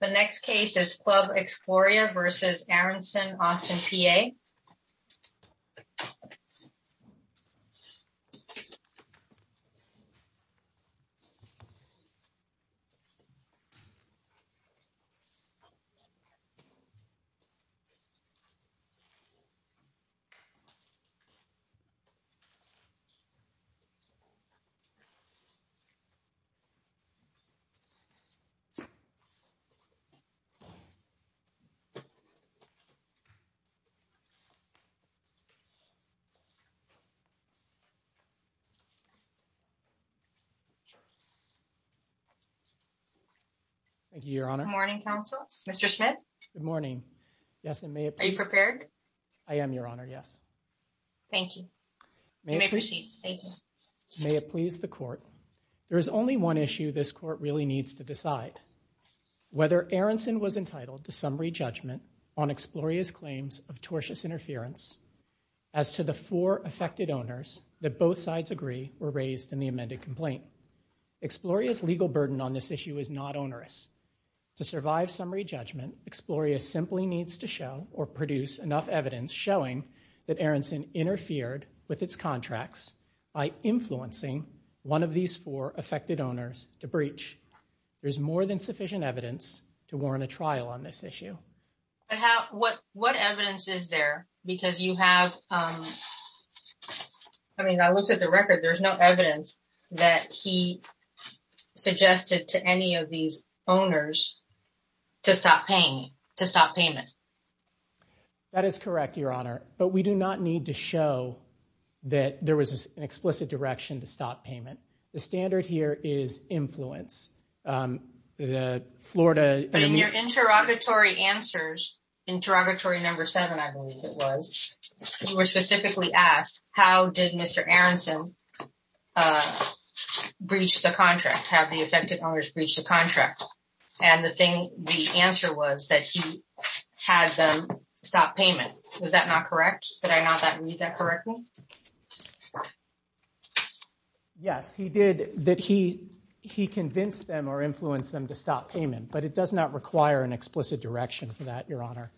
The next case is Club Exploria v. Aaronson, Austin, PA. Thank you, Your Honor. Good morning, counsel. Mr. Smith? Good morning. Yes, and may it please... Are you prepared? I am, Your Honor, yes. Thank you. You may proceed. Thank you. May it please the Court, there is only one issue this Court really needs to decide. Whether Aaronson was entitled to summary judgment on Exploria's claims of tortious interference as to the four affected owners that both sides agree were raised in the amended complaint. Exploria's legal burden on this issue is not onerous. To survive summary judgment, Exploria simply needs to show or produce enough evidence showing that Aaronson interfered with its contracts by influencing one of these four affected owners to breach. There's more than sufficient evidence to warrant a trial on this issue. What evidence is there? Because you have... I mean, I looked at the record. There's no evidence that he suggested to any of these owners to stop paying, to stop payment. That is correct, Your Honor. But we do not need to show that there was an explicit direction to stop payment. The standard here is influence. The Florida... But in your interrogatory answers, interrogatory number seven, I believe it was, you were specifically asked how did Mr. Aaronson breach the contract, have the affected owners breach the contract. And the thing, the answer was that he had them stop payment. Was that not correct? Yes, he did, that he convinced them or influenced them to stop payment. But it does not require an explicit direction for that, Your Honor.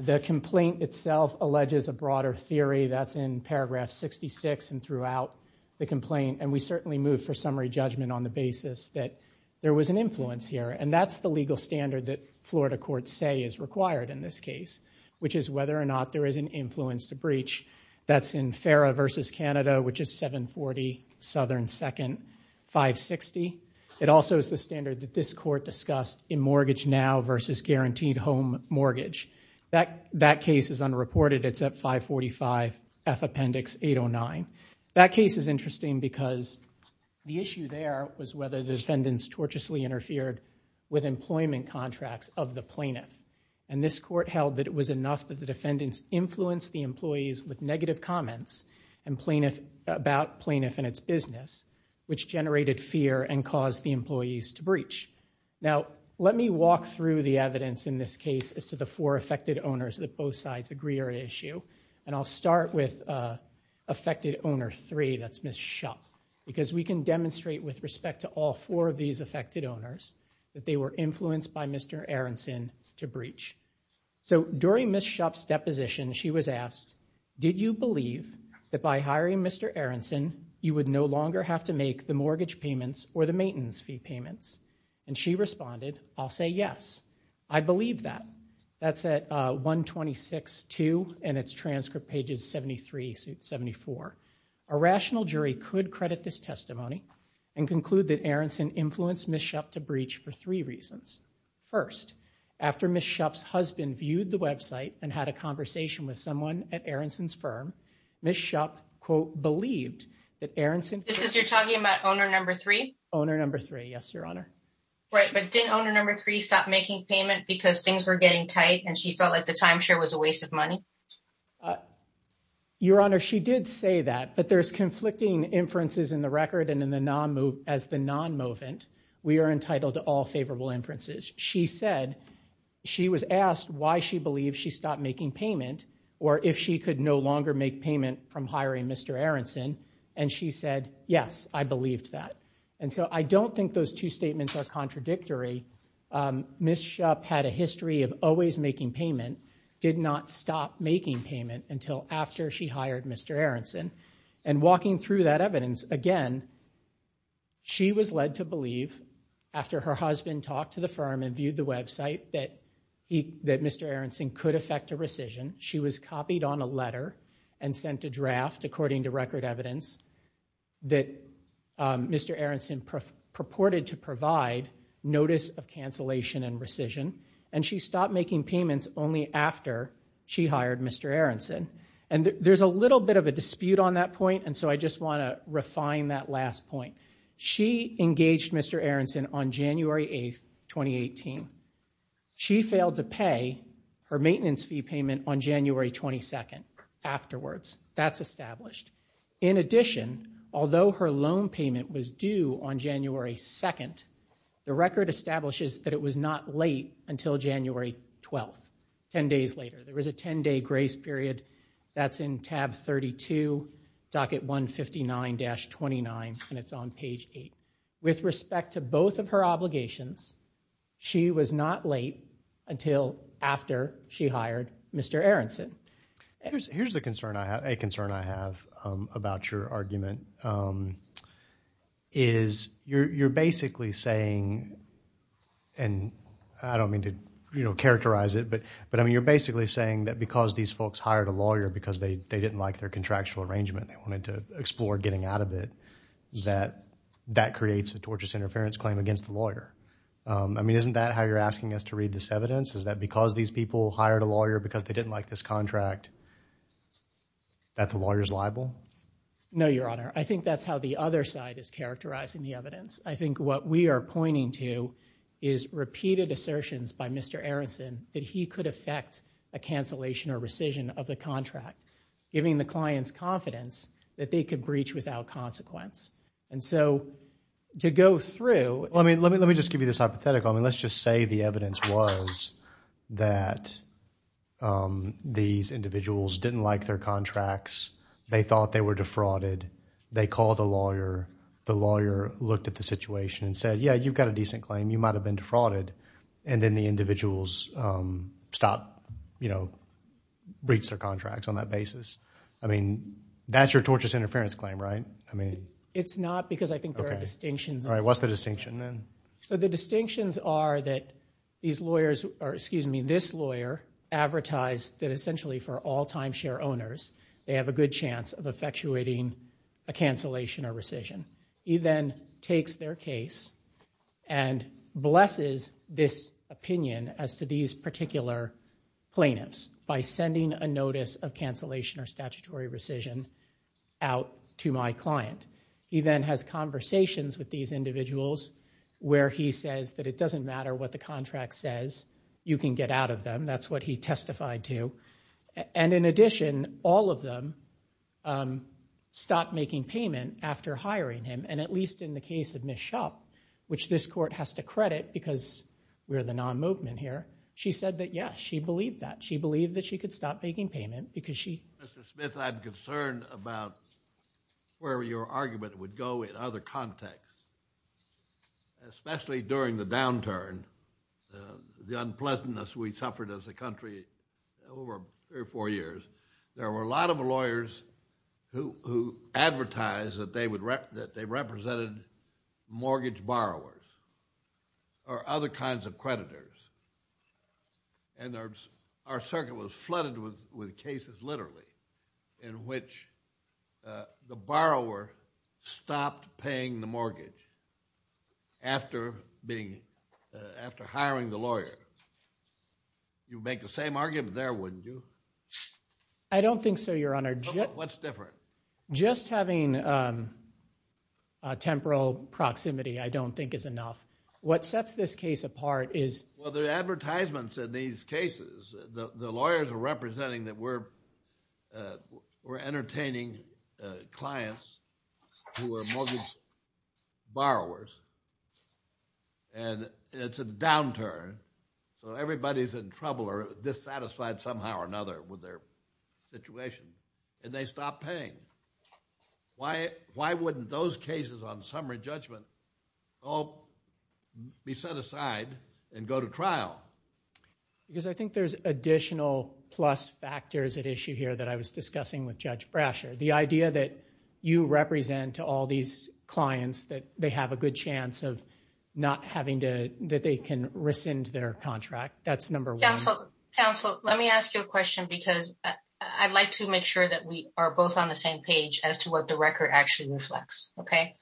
The complaint itself alleges a broader theory that's in paragraph 66 and throughout the complaint. And we certainly move for summary judgment on the basis that there was an influence here. And that's the legal standard that Florida say is required in this case, which is whether or not there is an influence to breach. That's in FARA versus Canada, which is 740 Southern 2nd, 560. It also is the standard that this court discussed in mortgage now versus guaranteed home mortgage. That case is unreported. It's at 545 F Appendix 809. That case is interesting because the issue there was whether defendants tortuously interfered with employment contracts of the plaintiff. And this court held that it was enough that the defendants influenced the employees with negative comments about plaintiff and its business, which generated fear and caused the employees to breach. Now, let me walk through the evidence in this case as to the four affected owners that both sides agree are at issue. And I'll start with affected owner three, that's Ms. Schupp. Because we can demonstrate with respect to all four of these affected owners that they were influenced by Mr. Aronson to breach. So during Ms. Schupp's deposition, she was asked, did you believe that by hiring Mr. Aronson, you would no longer have to make the mortgage payments or the maintenance fee payments? And she responded, I'll say yes. I believe that. That's at 126.2 and it's transcript pages 73 to 74. A rational jury could credit this testimony and conclude that Aronson influenced Ms. Schupp to breach for three reasons. First, after Ms. Schupp's husband viewed the website and had a conversation with someone at Aronson's firm, Ms. Schupp, quote, believed that Aronson- This is you're talking about owner number three? Owner number three, yes, your honor. Right, but didn't owner number three stop making payment because things were a waste of money? Your honor, she did say that, but there's conflicting inferences in the record and in the non move as the non-movement. We are entitled to all favorable inferences. She said she was asked why she believes she stopped making payment or if she could no longer make payment from hiring Mr. Aronson. And she said, yes, I believed that. And so I don't think those two did not stop making payment until after she hired Mr. Aronson. And walking through that evidence, again, she was led to believe after her husband talked to the firm and viewed the website that Mr. Aronson could affect a rescission. She was copied on a letter and sent a draft according to record evidence that Mr. Aronson purported to provide notice of cancellation and rescission. And she stopped making payments only after she hired Mr. Aronson. And there's a little bit of a dispute on that point. And so I just want to refine that last point. She engaged Mr. Aronson on January 8th, 2018. She failed to pay her maintenance fee payment on January 22nd afterwards. That's established. In addition, although her loan payment was due on January 2nd, the record establishes that it was not late until January 12th, 10 days later. There was a 10-day grace period. That's in tab 32, docket 159-29, and it's on page 8. With respect to both of her obligations, she was not late until after she hired Mr. Aronson. Here's a concern I have about your argument. You're basically saying, and I don't mean to characterize it, but you're basically saying that because these folks hired a lawyer because they didn't like their contractual arrangement, they wanted to explore getting out of it, that that creates a tortious interference claim against the lawyer. I mean, isn't that how you're asking us to read this evidence? Is that because these people hired a lawyer because they didn't like this contract, that the lawyer's liable? No, your honor. I think that's how the other side is characterizing the evidence. I think what we are pointing to is repeated assertions by Mr. Aronson that he could affect a cancellation or rescission of the contract, giving the clients confidence that they could breach without consequence. And so to go through... Let me just give you this hypothetical. I mean, let's just say the evidence was that these individuals didn't like their contracts. They thought they were defrauded. They called a lawyer. The lawyer looked at the situation and said, yeah, you've got a decent claim. You might have been defrauded. And then the individuals stop, you know, breached their contracts on that basis. I mean, that's your tortious interference claim, right? I mean... It's not because I think there are distinctions. What's the distinction then? So the distinctions are that these lawyers, or excuse me, this lawyer advertised that essentially for all timeshare owners, they have a good chance of effectuating a cancellation or rescission. He then takes their case and blesses this opinion as to these particular plaintiffs by sending a notice of cancellation or statutory rescission out to my individuals where he says that it doesn't matter what the contract says. You can get out of them. That's what he testified to. And in addition, all of them stopped making payment after hiring him. And at least in the case of Ms. Schupp, which this court has to credit because we're the non-movement here, she said that, yeah, she believed that. She believed that she could stop making payment because she... Mr. Smith, I'm concerned about where your argument would go in other contexts, especially during the downturn, the unpleasantness we suffered as a country over three or four years. There were a lot of lawyers who advertised that they represented mortgage borrowers or other kinds of creditors. And our circuit was flooded with cases literally in which the borrower stopped paying the mortgage after hiring the lawyer. You'd make the same argument there, wouldn't you? I don't think so, Your Honor. What's different? Just having temporal proximity I don't think is enough. What sets this case apart is... The advertisements in these cases, the lawyers are representing that we're entertaining clients who are mortgage borrowers and it's a downturn. So everybody's in trouble or dissatisfied somehow or another with their situation and they stop paying. Why wouldn't those cases on summary judgment all be set aside and go to trial? Because I think there's additional plus factors at issue here that I was discussing with Judge Brasher. The idea that you represent to all these clients that they have a good chance of not having to... That they can rescind their contract. That's number one. Counselor, let me ask you a question because I'd like to make sure that we are both on the same page as to what the record actually reflects, okay?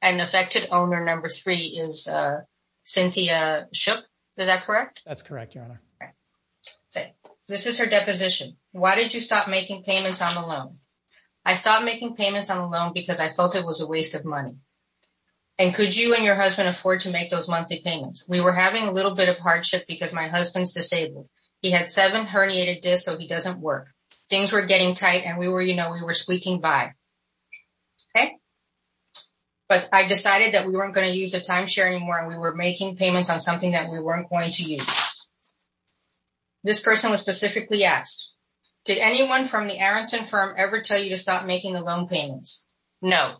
And affected owner number three is Cynthia Shook, is that correct? That's correct, Your Honor. This is her deposition. Why did you stop making payments on the loan? I stopped making payments on the loan because I felt it was a waste of money. And could you and your husband afford to make those monthly payments? We were having a little bit of hardship because my husband's disabled. He had seven herniated discs so he doesn't work. Things were getting tight and we were squeaking by, okay? But I decided that we weren't going to use it. This person was specifically asked, did anyone from the Aronson firm ever tell you to stop making the loan payments? No.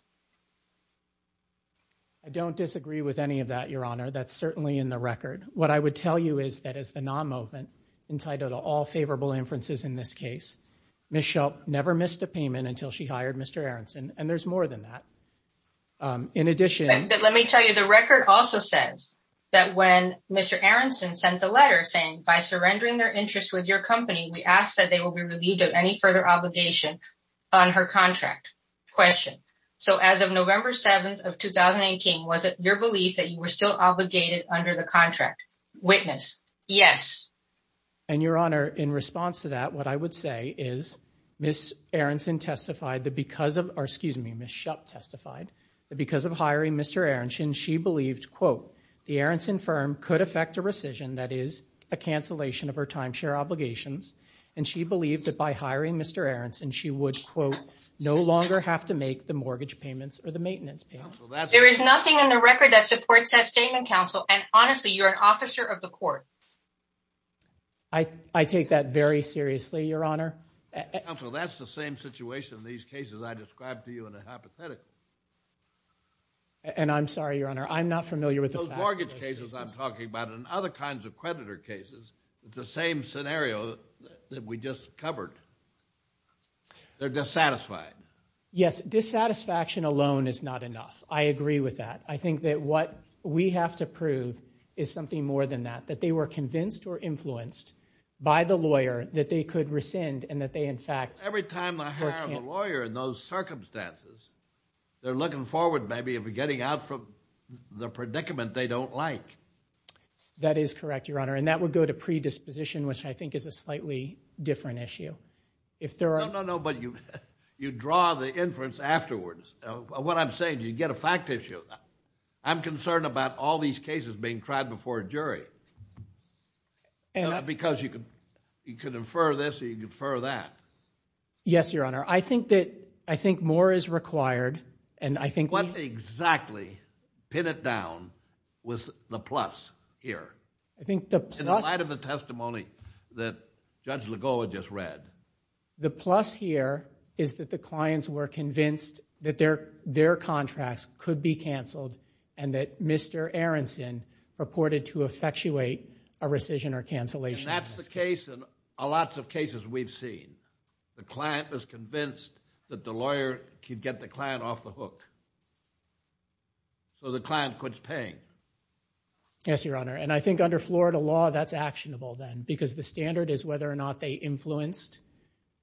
I don't disagree with any of that, Your Honor. That's certainly in the record. What I would tell you is that as the non-movement entitled to all favorable inferences in this case, Ms. Shook never missed a payment until she hired Mr. Aronson. And there's more than that. In addition... Mr. Aronson sent a letter saying, by surrendering their interest with your company, we ask that they will be relieved of any further obligation on her contract. Question. So as of November 7th of 2018, was it your belief that you were still obligated under the contract? Witness. Yes. And Your Honor, in response to that, what I would say is Ms. Aronson testified that because of... or excuse me, Ms. Shook testified that because hiring Mr. Aronson, she believed, quote, the Aronson firm could affect a rescission, that is, a cancellation of her timeshare obligations. And she believed that by hiring Mr. Aronson, she would, quote, no longer have to make the mortgage payments or the maintenance payments. There is nothing in the record that supports that statement, counsel. And honestly, you're an officer of the court. I take that very seriously, Your Honor. Counsel, that's the same situation in these cases I described to you in a hypothetical. And I'm sorry, Your Honor, I'm not familiar with the facts. Those mortgage cases I'm talking about and other kinds of creditor cases, it's the same scenario that we just covered. They're dissatisfied. Yes. Dissatisfaction alone is not enough. I agree with that. I think that what we have to prove is something more than that, that they were convinced or influenced by the lawyer that they could rescind and that they, in fact... Every time they hire a lawyer in those circumstances, they're looking forward maybe of getting out from the predicament they don't like. That is correct, Your Honor. And that would go to predisposition, which I think is a slightly different issue. No, no, no, but you draw the inference afterwards. What I'm saying, you get a fact issue. I'm concerned about all these cases being tried before a jury and... Because you could infer this or you could infer that. Yes, Your Honor. I think more is required and I think... What exactly, pin it down, was the plus here? I think the plus... In light of the testimony that Judge Legault had just read. The plus here is that the clients were convinced that their contracts could be canceled and that Mr. Aronson purported to effectuate a rescission or cancellation. And that's the case in lots of cases we've seen. The client was convinced that the lawyer could get the client off the hook. So the client quits paying. Yes, Your Honor. And I think under Florida law, that's actionable then because the standard is whether or not they influenced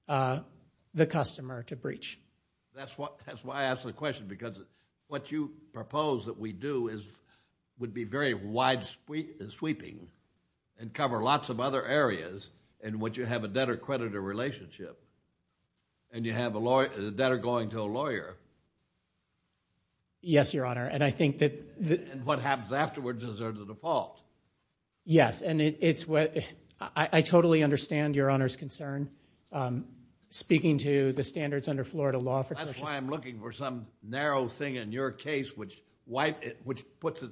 the customer to breach. That's why I asked the question because what you propose that we do would be very wide sweeping and cover lots of other areas in which you have a debtor-creditor relationship and you have a debtor going to a lawyer. Yes, Your Honor. And I think that... And what happens afterwards is there's a default. Yes, and it's what... I totally understand Your Honor's concern. Speaking to the standards under Florida law... That's why I'm looking for some narrow thing in your case which puts it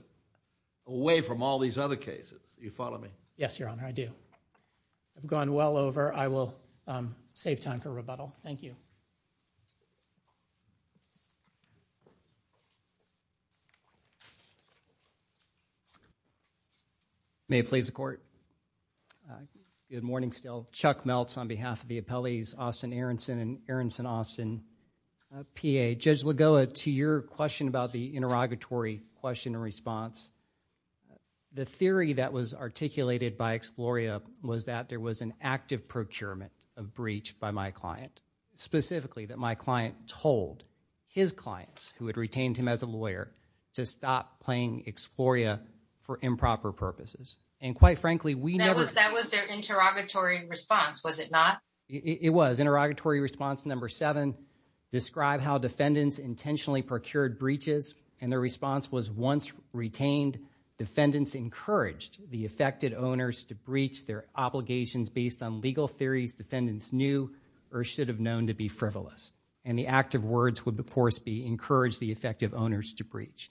away from all these other cases. Do you follow me? Yes, Your Honor, I do. I've gone well over. I will save time for rebuttal. Thank you. May it please the court. Good morning still. Chuck Meltz on behalf of the appellees, Austin Aronson and Aronson Austin, PA. Judge Lagoa, to your question about the interrogatory question and response, the theory that was articulated by Exploria was that there was an active procurement of breach by my client, specifically that my client told his clients, who had retained him as a lawyer, to stop playing Exploria for improper purposes. And quite frankly, we never... That was their interrogatory response, was it not? It was. Interrogatory response number seven described how defendants intentionally procured breaches and their response was once retained, defendants encouraged the affected owners to breach their obligations based on legal theories defendants knew or should have known to be frivolous. And the active words would, of course, be encourage the effective owners to breach.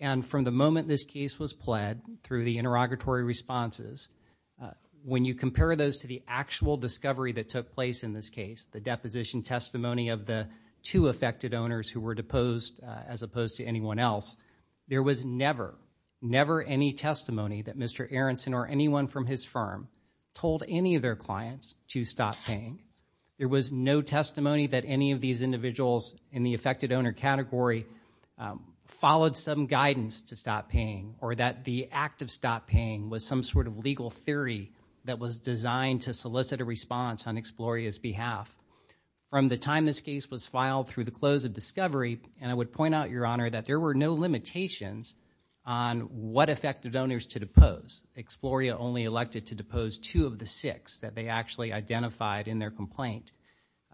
And from the moment this case was pled through the interrogatory responses, when you compare those to the actual discovery that took place in this case, the deposition testimony of the two affected owners who were deposed as opposed to anyone else, there was never, never any testimony that Mr. Aronson or anyone from his firm told any of their clients to stop paying. There was no testimony that any of these individuals in the affected owner category followed some guidance to stop paying or that the act of stop paying was some sort of legal theory that was designed to solicit a response on Exploria's behalf. From the time this case was filed through the close of discovery, and I would point out, Your Honor, that there were no limitations on what affected owners to depose. Exploria only elected to depose two of the six that they actually identified in their complaint.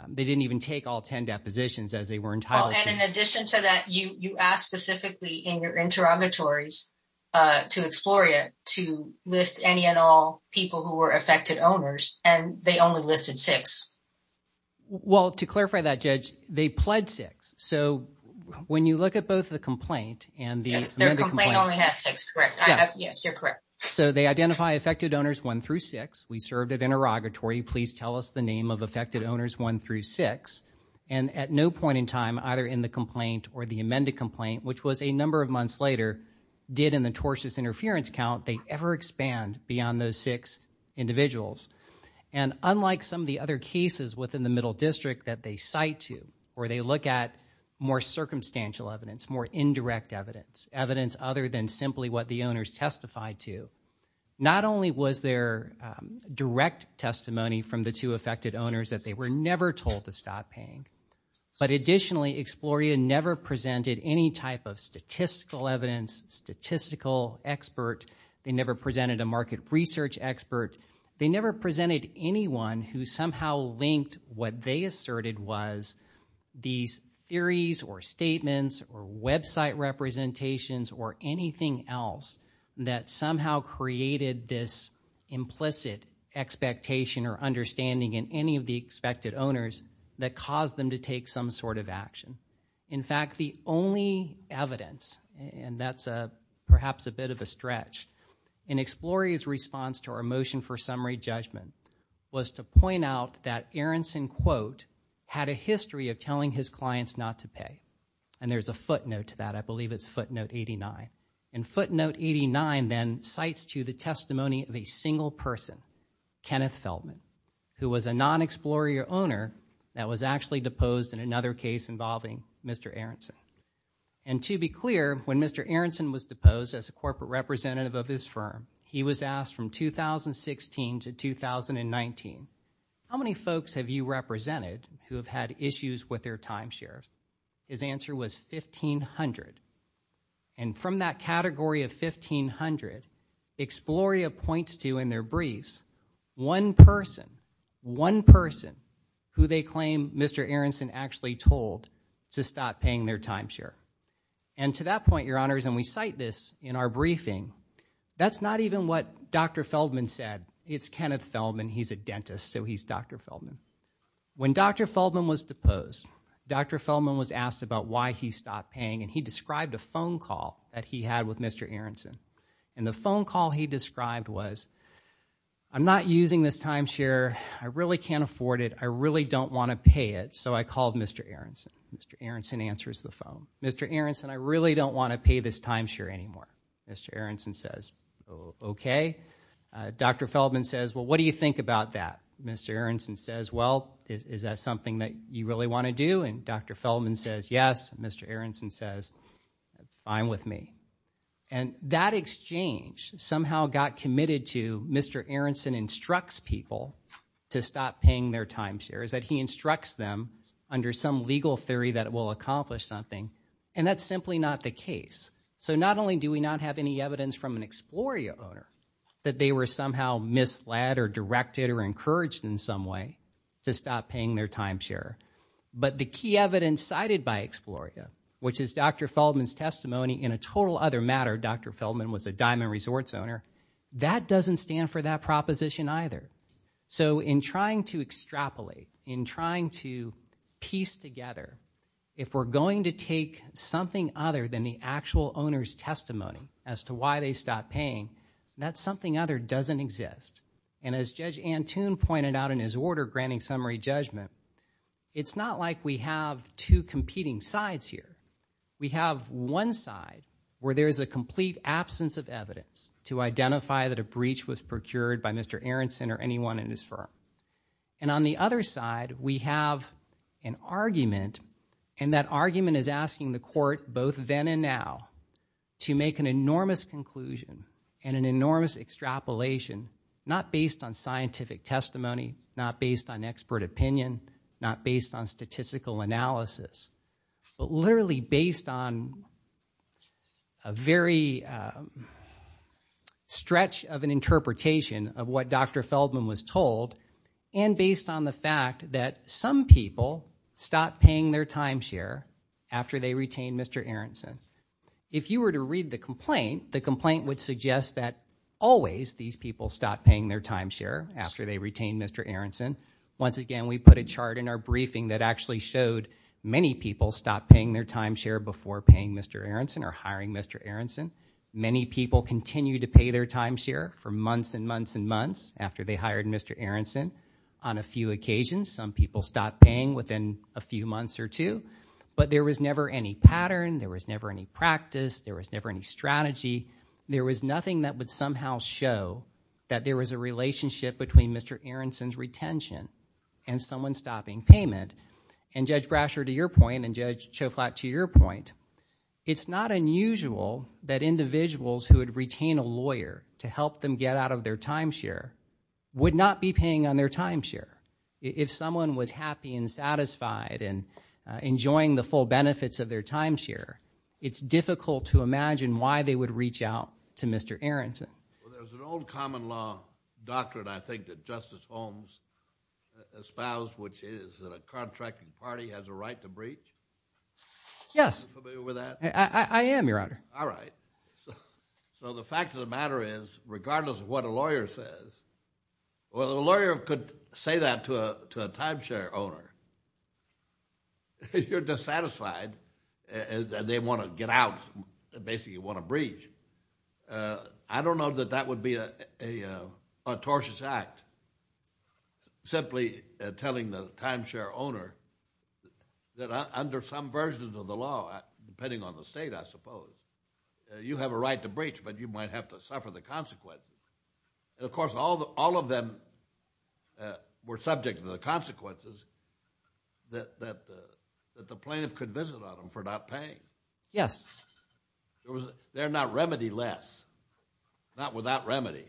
They didn't even take all 10 depositions as they were entitled to. And in addition to that, you asked specifically in your interrogatories to Exploria to list any and all people who were affected owners, and they only listed six. Well, to clarify that, Judge, they pled six. So when you look at both the complaint and the Yes, their complaint only has six, correct. Yes, you're correct. So they identify affected owners one through six. We served at interrogatory. Please tell us the owners one through six. And at no point in time, either in the complaint or the amended complaint, which was a number of months later, did in the tortious interference count, they ever expand beyond those six individuals. And unlike some of the other cases within the middle district that they cite to, or they look at more circumstantial evidence, more indirect evidence, evidence other than simply what the owners testified to, not only was there direct testimony from the two affected owners that they were never told to stop paying. But additionally, Exploria never presented any type of statistical evidence, statistical expert. They never presented a market research expert. They never presented anyone who somehow linked what they asserted was these theories or statements or website representations or anything else that somehow created this implicit expectation or understanding in any of the expected owners that caused them to take some sort of action. In fact, the only evidence, and that's perhaps a bit of a stretch, in Exploria's response to our motion for summary judgment was to point out that Aronson, quote, had a history of telling his clients not to pay. And there's a footnote to that. I believe it's footnote 89. And footnote 89 then cites to the testimony of a single person, Kenneth Feldman, who was a non-Exploria owner that was actually deposed in another case involving Mr. Aronson. And to be clear, when Mr. Aronson was deposed as a corporate representative of his firm, he was asked from 2016 to 2019, how many folks have you represented who have had issues with their timeshare? His answer was 1,500. And from that category of 1,500, Exploria points to in their briefs one person, one person who they claim Mr. Aronson actually told to stop paying their timeshare. And to that point, your honors, and we cite this in our briefing, that's not even what Dr. Feldman said. It's Kenneth Feldman. He's a dentist, so he's Dr. Feldman. When Dr. Feldman was deposed, Dr. Feldman was asked about why he stopped paying, and he described a phone call that he had with Mr. Aronson. And the phone call he described was, I'm not using this timeshare. I really can't afford it. I really don't want to pay it. So I called Mr. Aronson. Mr. Aronson answers the phone. Mr. Aronson, I really don't want to pay this timeshare anymore. Mr. Aronson says, okay. Dr. Feldman says, well, what do you think about that? Mr. Aronson says, well, is that something that you really want to do? And Dr. Feldman says, yes. Mr. Aronson says, fine with me. And that exchange somehow got committed to Mr. Aronson instructs people to stop paying their timeshares, that he instructs them under some legal theory that it will accomplish something, and that's simply not the case. So not only do we not have any evidence from an Exploria owner that they were somehow misled or directed or encouraged in some way to stop paying their timeshare, but the key evidence cited by Exploria, which is Dr. Feldman's testimony in a total other matter, Dr. Feldman was a Diamond Resorts owner, that doesn't stand for that proposition either. So in trying to extrapolate, in trying to piece together, if we're going to take something other than the actual owner's testimony as to why they stopped paying, that something other doesn't exist. And as Judge Antoon pointed out in his order granting summary judgment, it's not like we have two competing sides here. We have one side where there's a complete absence of evidence to identify that a breach was procured by Mr. Aronson or anyone in his firm. And on the other side, we have an argument, and that argument is asking the court, both then and now, to make an enormous conclusion and an enormous extrapolation, not based on scientific testimony, not based on expert opinion, not based on statistical analysis, but literally based on a very of an interpretation of what Dr. Feldman was told and based on the fact that some people stopped paying their timeshare after they retained Mr. Aronson. If you were to read the complaint, the complaint would suggest that always these people stopped paying their timeshare after they retained Mr. Aronson. Once again, we put a chart in our briefing that actually showed many people stopped paying their timeshare before paying Mr. Aronson or hiring Mr. Aronson. Many people continued to pay their timeshare for months and months and months after they hired Mr. Aronson. On a few occasions, some people stopped paying within a few months or two, but there was never any pattern. There was never any practice. There was never any strategy. There was nothing that would somehow show that there was a relationship between Mr. Aronson's retention and someone stopping payment. And Judge Brasher, to your point, and Judge Schoflat, to your point, it's not unusual that individuals who would retain a lawyer to help them get out of their timeshare would not be paying on their timeshare. If someone was happy and satisfied and enjoying the full benefits of their timeshare, it's difficult to imagine why they would reach out to Mr. Aronson. Well, there's an old common law doctrine, I think, that Justice Holmes espoused, which is that a contracting party has a right to breach. Yes. Are you familiar with that? I am, Your Honor. All right. So the fact of the matter is, regardless of what a lawyer says, well, a lawyer could say that to a timeshare owner. You're dissatisfied and they want to get out, basically want to breach. I don't know that would be an atrocious act, simply telling the timeshare owner that under some versions of the law, depending on the state, I suppose, you have a right to breach, but you might have to suffer the consequences. Of course, all of them were subject to the consequences that the plaintiff could visit on them for not paying. Yes. They're not remedy-less, not without remedy.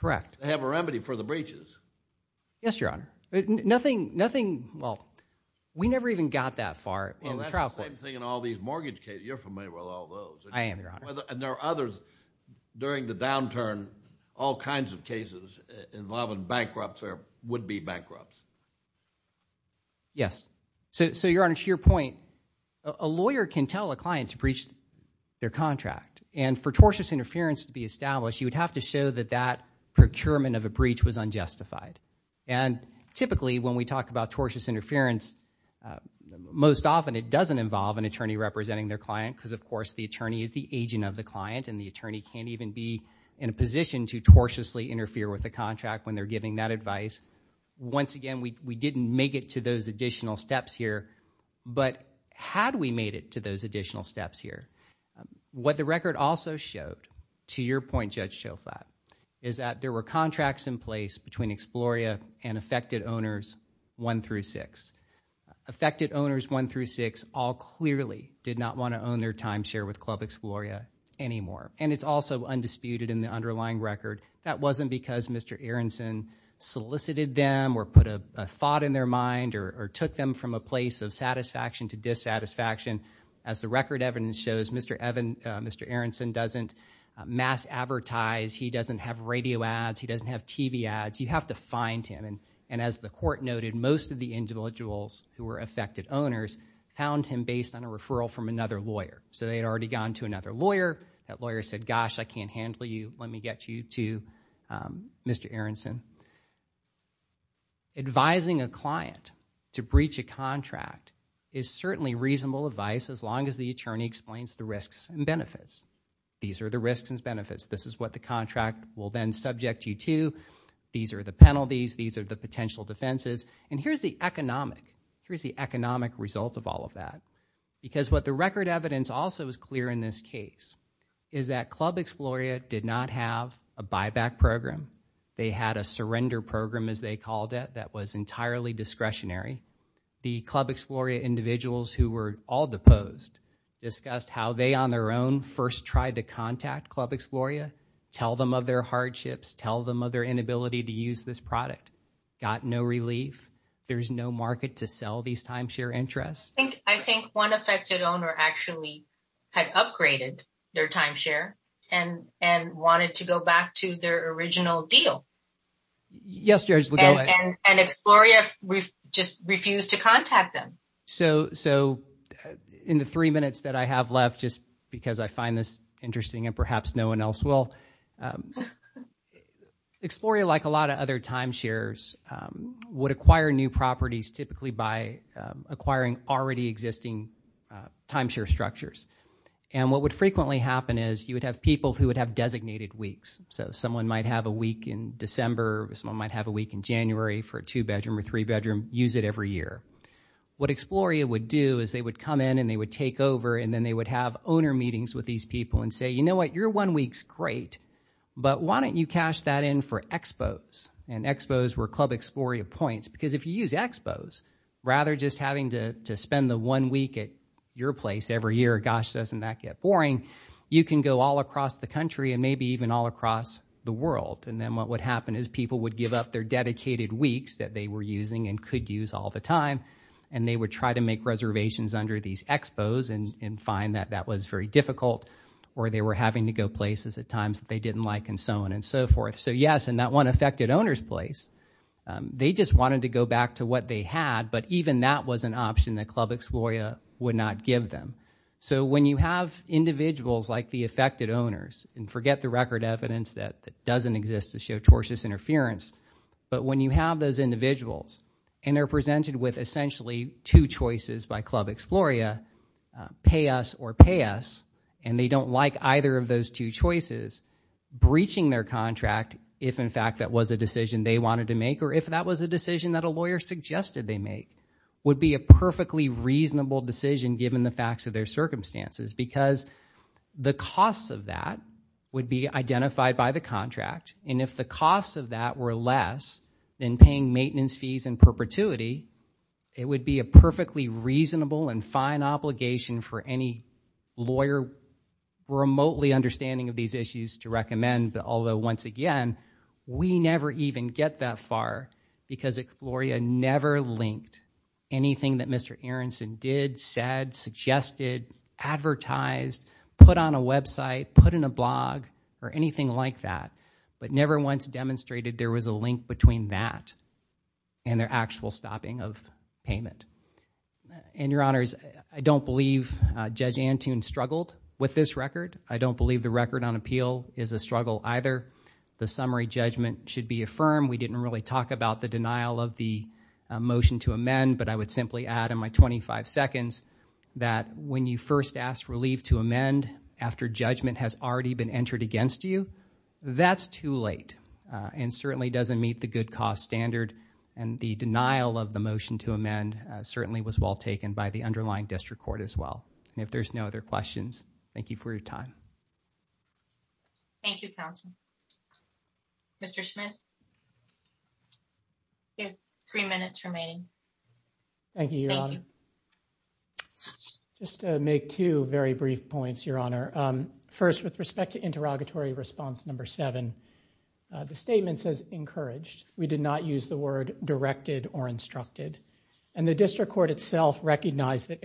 Correct. They have a remedy for the breaches. Yes, Your Honor. Nothing, well, we never even got that far in the trial court. Well, that's the same thing in all these mortgage cases. You're familiar with all those. I am, Your Honor. And there are others during the downturn, all kinds of cases involving bankrupts or would-be bankrupts. Yes. So, Your Honor, to your point, a lawyer can tell a client to breach their contract. And for tortious interference to be established, you would have to show that that procurement of a breach was unjustified. And typically, when we talk about tortious interference, most often it doesn't involve an attorney representing their client because, of course, the attorney is the agent of the client and the attorney can't even be in a position to tortiously interfere with the contract when they're giving that advice. Once again, we didn't make it to those additional steps here. But had we made it to those additional steps here? What the record also showed, to your point, Judge Choflat, is that there were contracts in place between Exploria and affected owners 1 through 6. Affected owners 1 through 6 all clearly did not want to own their timeshare with Club Exploria anymore. And it's also undisputed in the underlying record. That wasn't because Mr. Aronson solicited them or put a thought in their mind or took them from a place of satisfaction to dissatisfaction. As the record evidence shows, Mr. Aronson doesn't mass advertise. He doesn't have radio ads. He doesn't have TV ads. You have to find him. And as the court noted, most of the individuals who were affected owners found him based on a referral from another lawyer. So, they had already gone to another lawyer. That lawyer said, gosh, I can't handle you. Let me get you to Mr. Aronson. Advising a client to breach a contract is certainly reasonable advice as long as the attorney explains the risks and benefits. These are the risks and benefits. This is what the contract will then subject you to. These are the penalties. These are the potential defenses. And here's the economic result of all of that. Because what the record evidence also is clear in this case is that Club Exploria did not have a buyback program. They had a surrender program, as they called it, that was entirely discretionary. The Club Exploria individuals who were all deposed discussed how they, on their own, first tried to contact Club Exploria, tell them of their hardships, tell them of their inability to use this product. Got no relief. There's no market to sell these timeshare interests. I think one affected owner actually had upgraded their timeshare and wanted to go back to their original deal. Yes, Judge, go ahead. And Exploria just refused to contact them. So in the three minutes that I have left, just because I find this interesting and perhaps no one else will, Exploria, like a lot of other timeshares, would acquire new properties typically by acquiring already existing timeshare structures. And what would frequently happen is you would have people who would have designated weeks. So someone might have a week in December, someone might have a week in January for a two-bedroom or three-bedroom, use it every year. What Exploria would do is they would come in and they would take over and then they would have owner meetings with these people and say, you know what, your one week's great, but why don't you cash that in for Expos? And Expos were Club Exploria points. Because if you use Expos, rather just having to spend the one week at your place every year, gosh, doesn't that get boring, you can go all across the country and maybe even all across the world. And then what would happen is people would give up their dedicated weeks that they were using and could use all the time and they would try to make reservations under these Expos and find that that was very difficult or they were having to go places at times that they didn't like and so on and so forth. So yes, in that one affected owner's place, they just wanted to go back to what they had, but even that was an option that Club Exploria would not give them. So when you have individuals like the affected owners, and forget the record evidence that doesn't exist to show tortious interference, but when you have those individuals and they're presented with essentially two choices by Club Exploria, pay us or pay us, and they in fact that was a decision they wanted to make or if that was a decision that a lawyer suggested they make, would be a perfectly reasonable decision given the facts of their circumstances because the costs of that would be identified by the contract and if the costs of that were less than paying maintenance fees in perpetuity, it would be a perfectly reasonable and fine obligation for any lawyer remotely understanding of these issues to We never even get that far because Exploria never linked anything that Mr. Aronson did, said, suggested, advertised, put on a website, put in a blog or anything like that, but never once demonstrated there was a link between that and their actual stopping of payment. And your honors, I don't believe Judge Antoon struggled with this record. I don't believe the record on appeal is a struggle either. The summary judgment should be affirmed. We didn't really talk about the denial of the motion to amend, but I would simply add in my 25 seconds that when you first ask relief to amend after judgment has already been entered against you, that's too late and certainly doesn't meet the good cost standard and the denial of the motion to amend certainly was well taken by the underlying district court as well. If there's no other questions, thank you for your time. Thank you, counsel. Mr. Smith. You have three minutes remaining. Thank you, your honor. Just to make two very brief points, your honor. First, with respect to interrogatory response number seven, the statement says encouraged. We did not use the word directed or instructed and the district court itself recognized that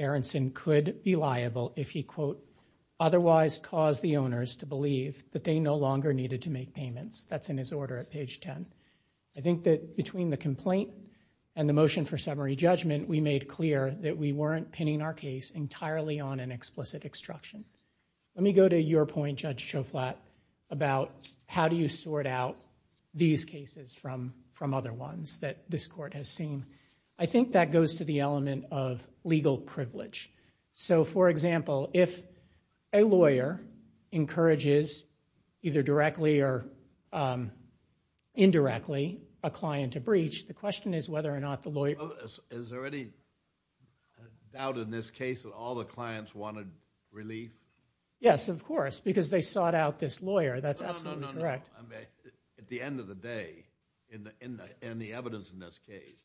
caused the owners to believe that they no longer needed to make payments. That's in his order at page 10. I think that between the complaint and the motion for summary judgment, we made clear that we weren't pinning our case entirely on an explicit obstruction. Let me go to your point, Judge Choflat, about how do you sort out these cases from other ones that this court has seen. I think that goes to the element of legal privilege. For example, if a lawyer encourages either directly or indirectly a client to breach, the question is whether or not the lawyer... Is there any doubt in this case that all the clients wanted relief? Yes, of course, because they sought out this lawyer. That's absolutely correct. At the end of the day, in the evidence in this case,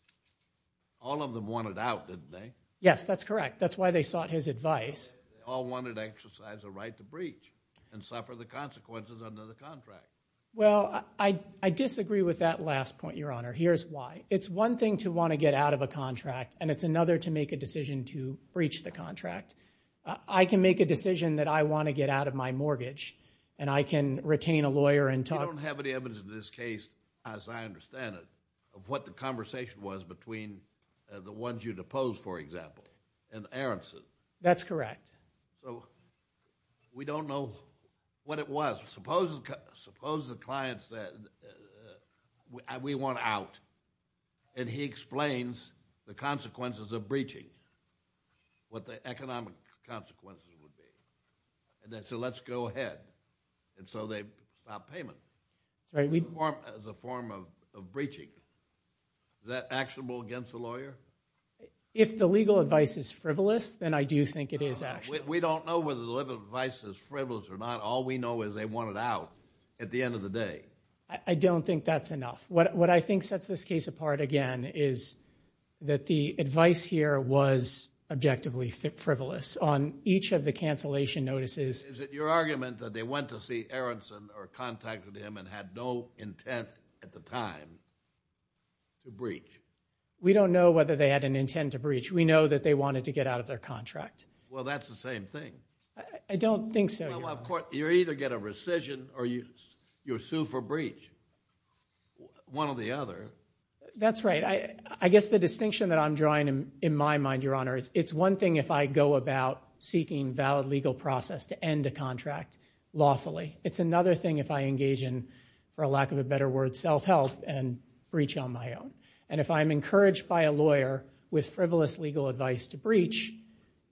all of them wanted out, didn't they? Yes, that's correct. That's why they sought his advice. They all wanted to exercise a right to breach and suffer the consequences under the contract. Well, I disagree with that last point, Your Honor. Here's why. It's one thing to want to get out of a contract, and it's another to make a decision to breach the contract. I can make a decision that I want to get out of my mortgage, and I can retain a lawyer and talk... You don't have any evidence in this case, as I understand it, of what the conversation was between the ones you'd oppose, for example. And Aronson. That's correct. So we don't know what it was. Suppose the client said, we want out. And he explains the consequences of breaching, what the economic consequences would be. And they said, let's go ahead. And so they stopped payment. Sorry, we... As a form of breaching. Is that actionable against the lawyer? If the legal advice is frivolous, then I do think it is actionable. We don't know whether the legal advice is frivolous or not. All we know is they want it out at the end of the day. I don't think that's enough. What I think sets this case apart, again, is that the advice here was objectively frivolous. On each of the cancellation notices... Is it your argument that they went to see Aronson or contacted him and had no intent at the time to breach? We don't know whether they had an intent to breach. We know that they wanted to get out of their contract. Well, that's the same thing. I don't think so. You either get a rescission or you're sued for breach. One or the other. That's right. I guess the distinction that I'm drawing in my mind, Your Honor, is it's one thing if I go about seeking valid legal process to end a contract lawfully. It's another thing if I engage in, for lack of a better word, self-help and breach on my own. If I'm encouraged by a lawyer with frivolous legal advice to breach,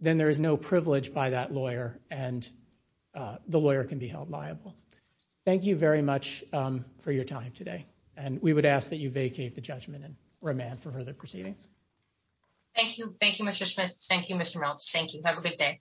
then there is no privilege by that lawyer and the lawyer can be held liable. Thank you very much for your time today. We would ask that you vacate the judgment and remand for further proceedings. Thank you. Thank you, Mr. Smith. Thank you, Mr. Meltz. Thank you. Have a good day.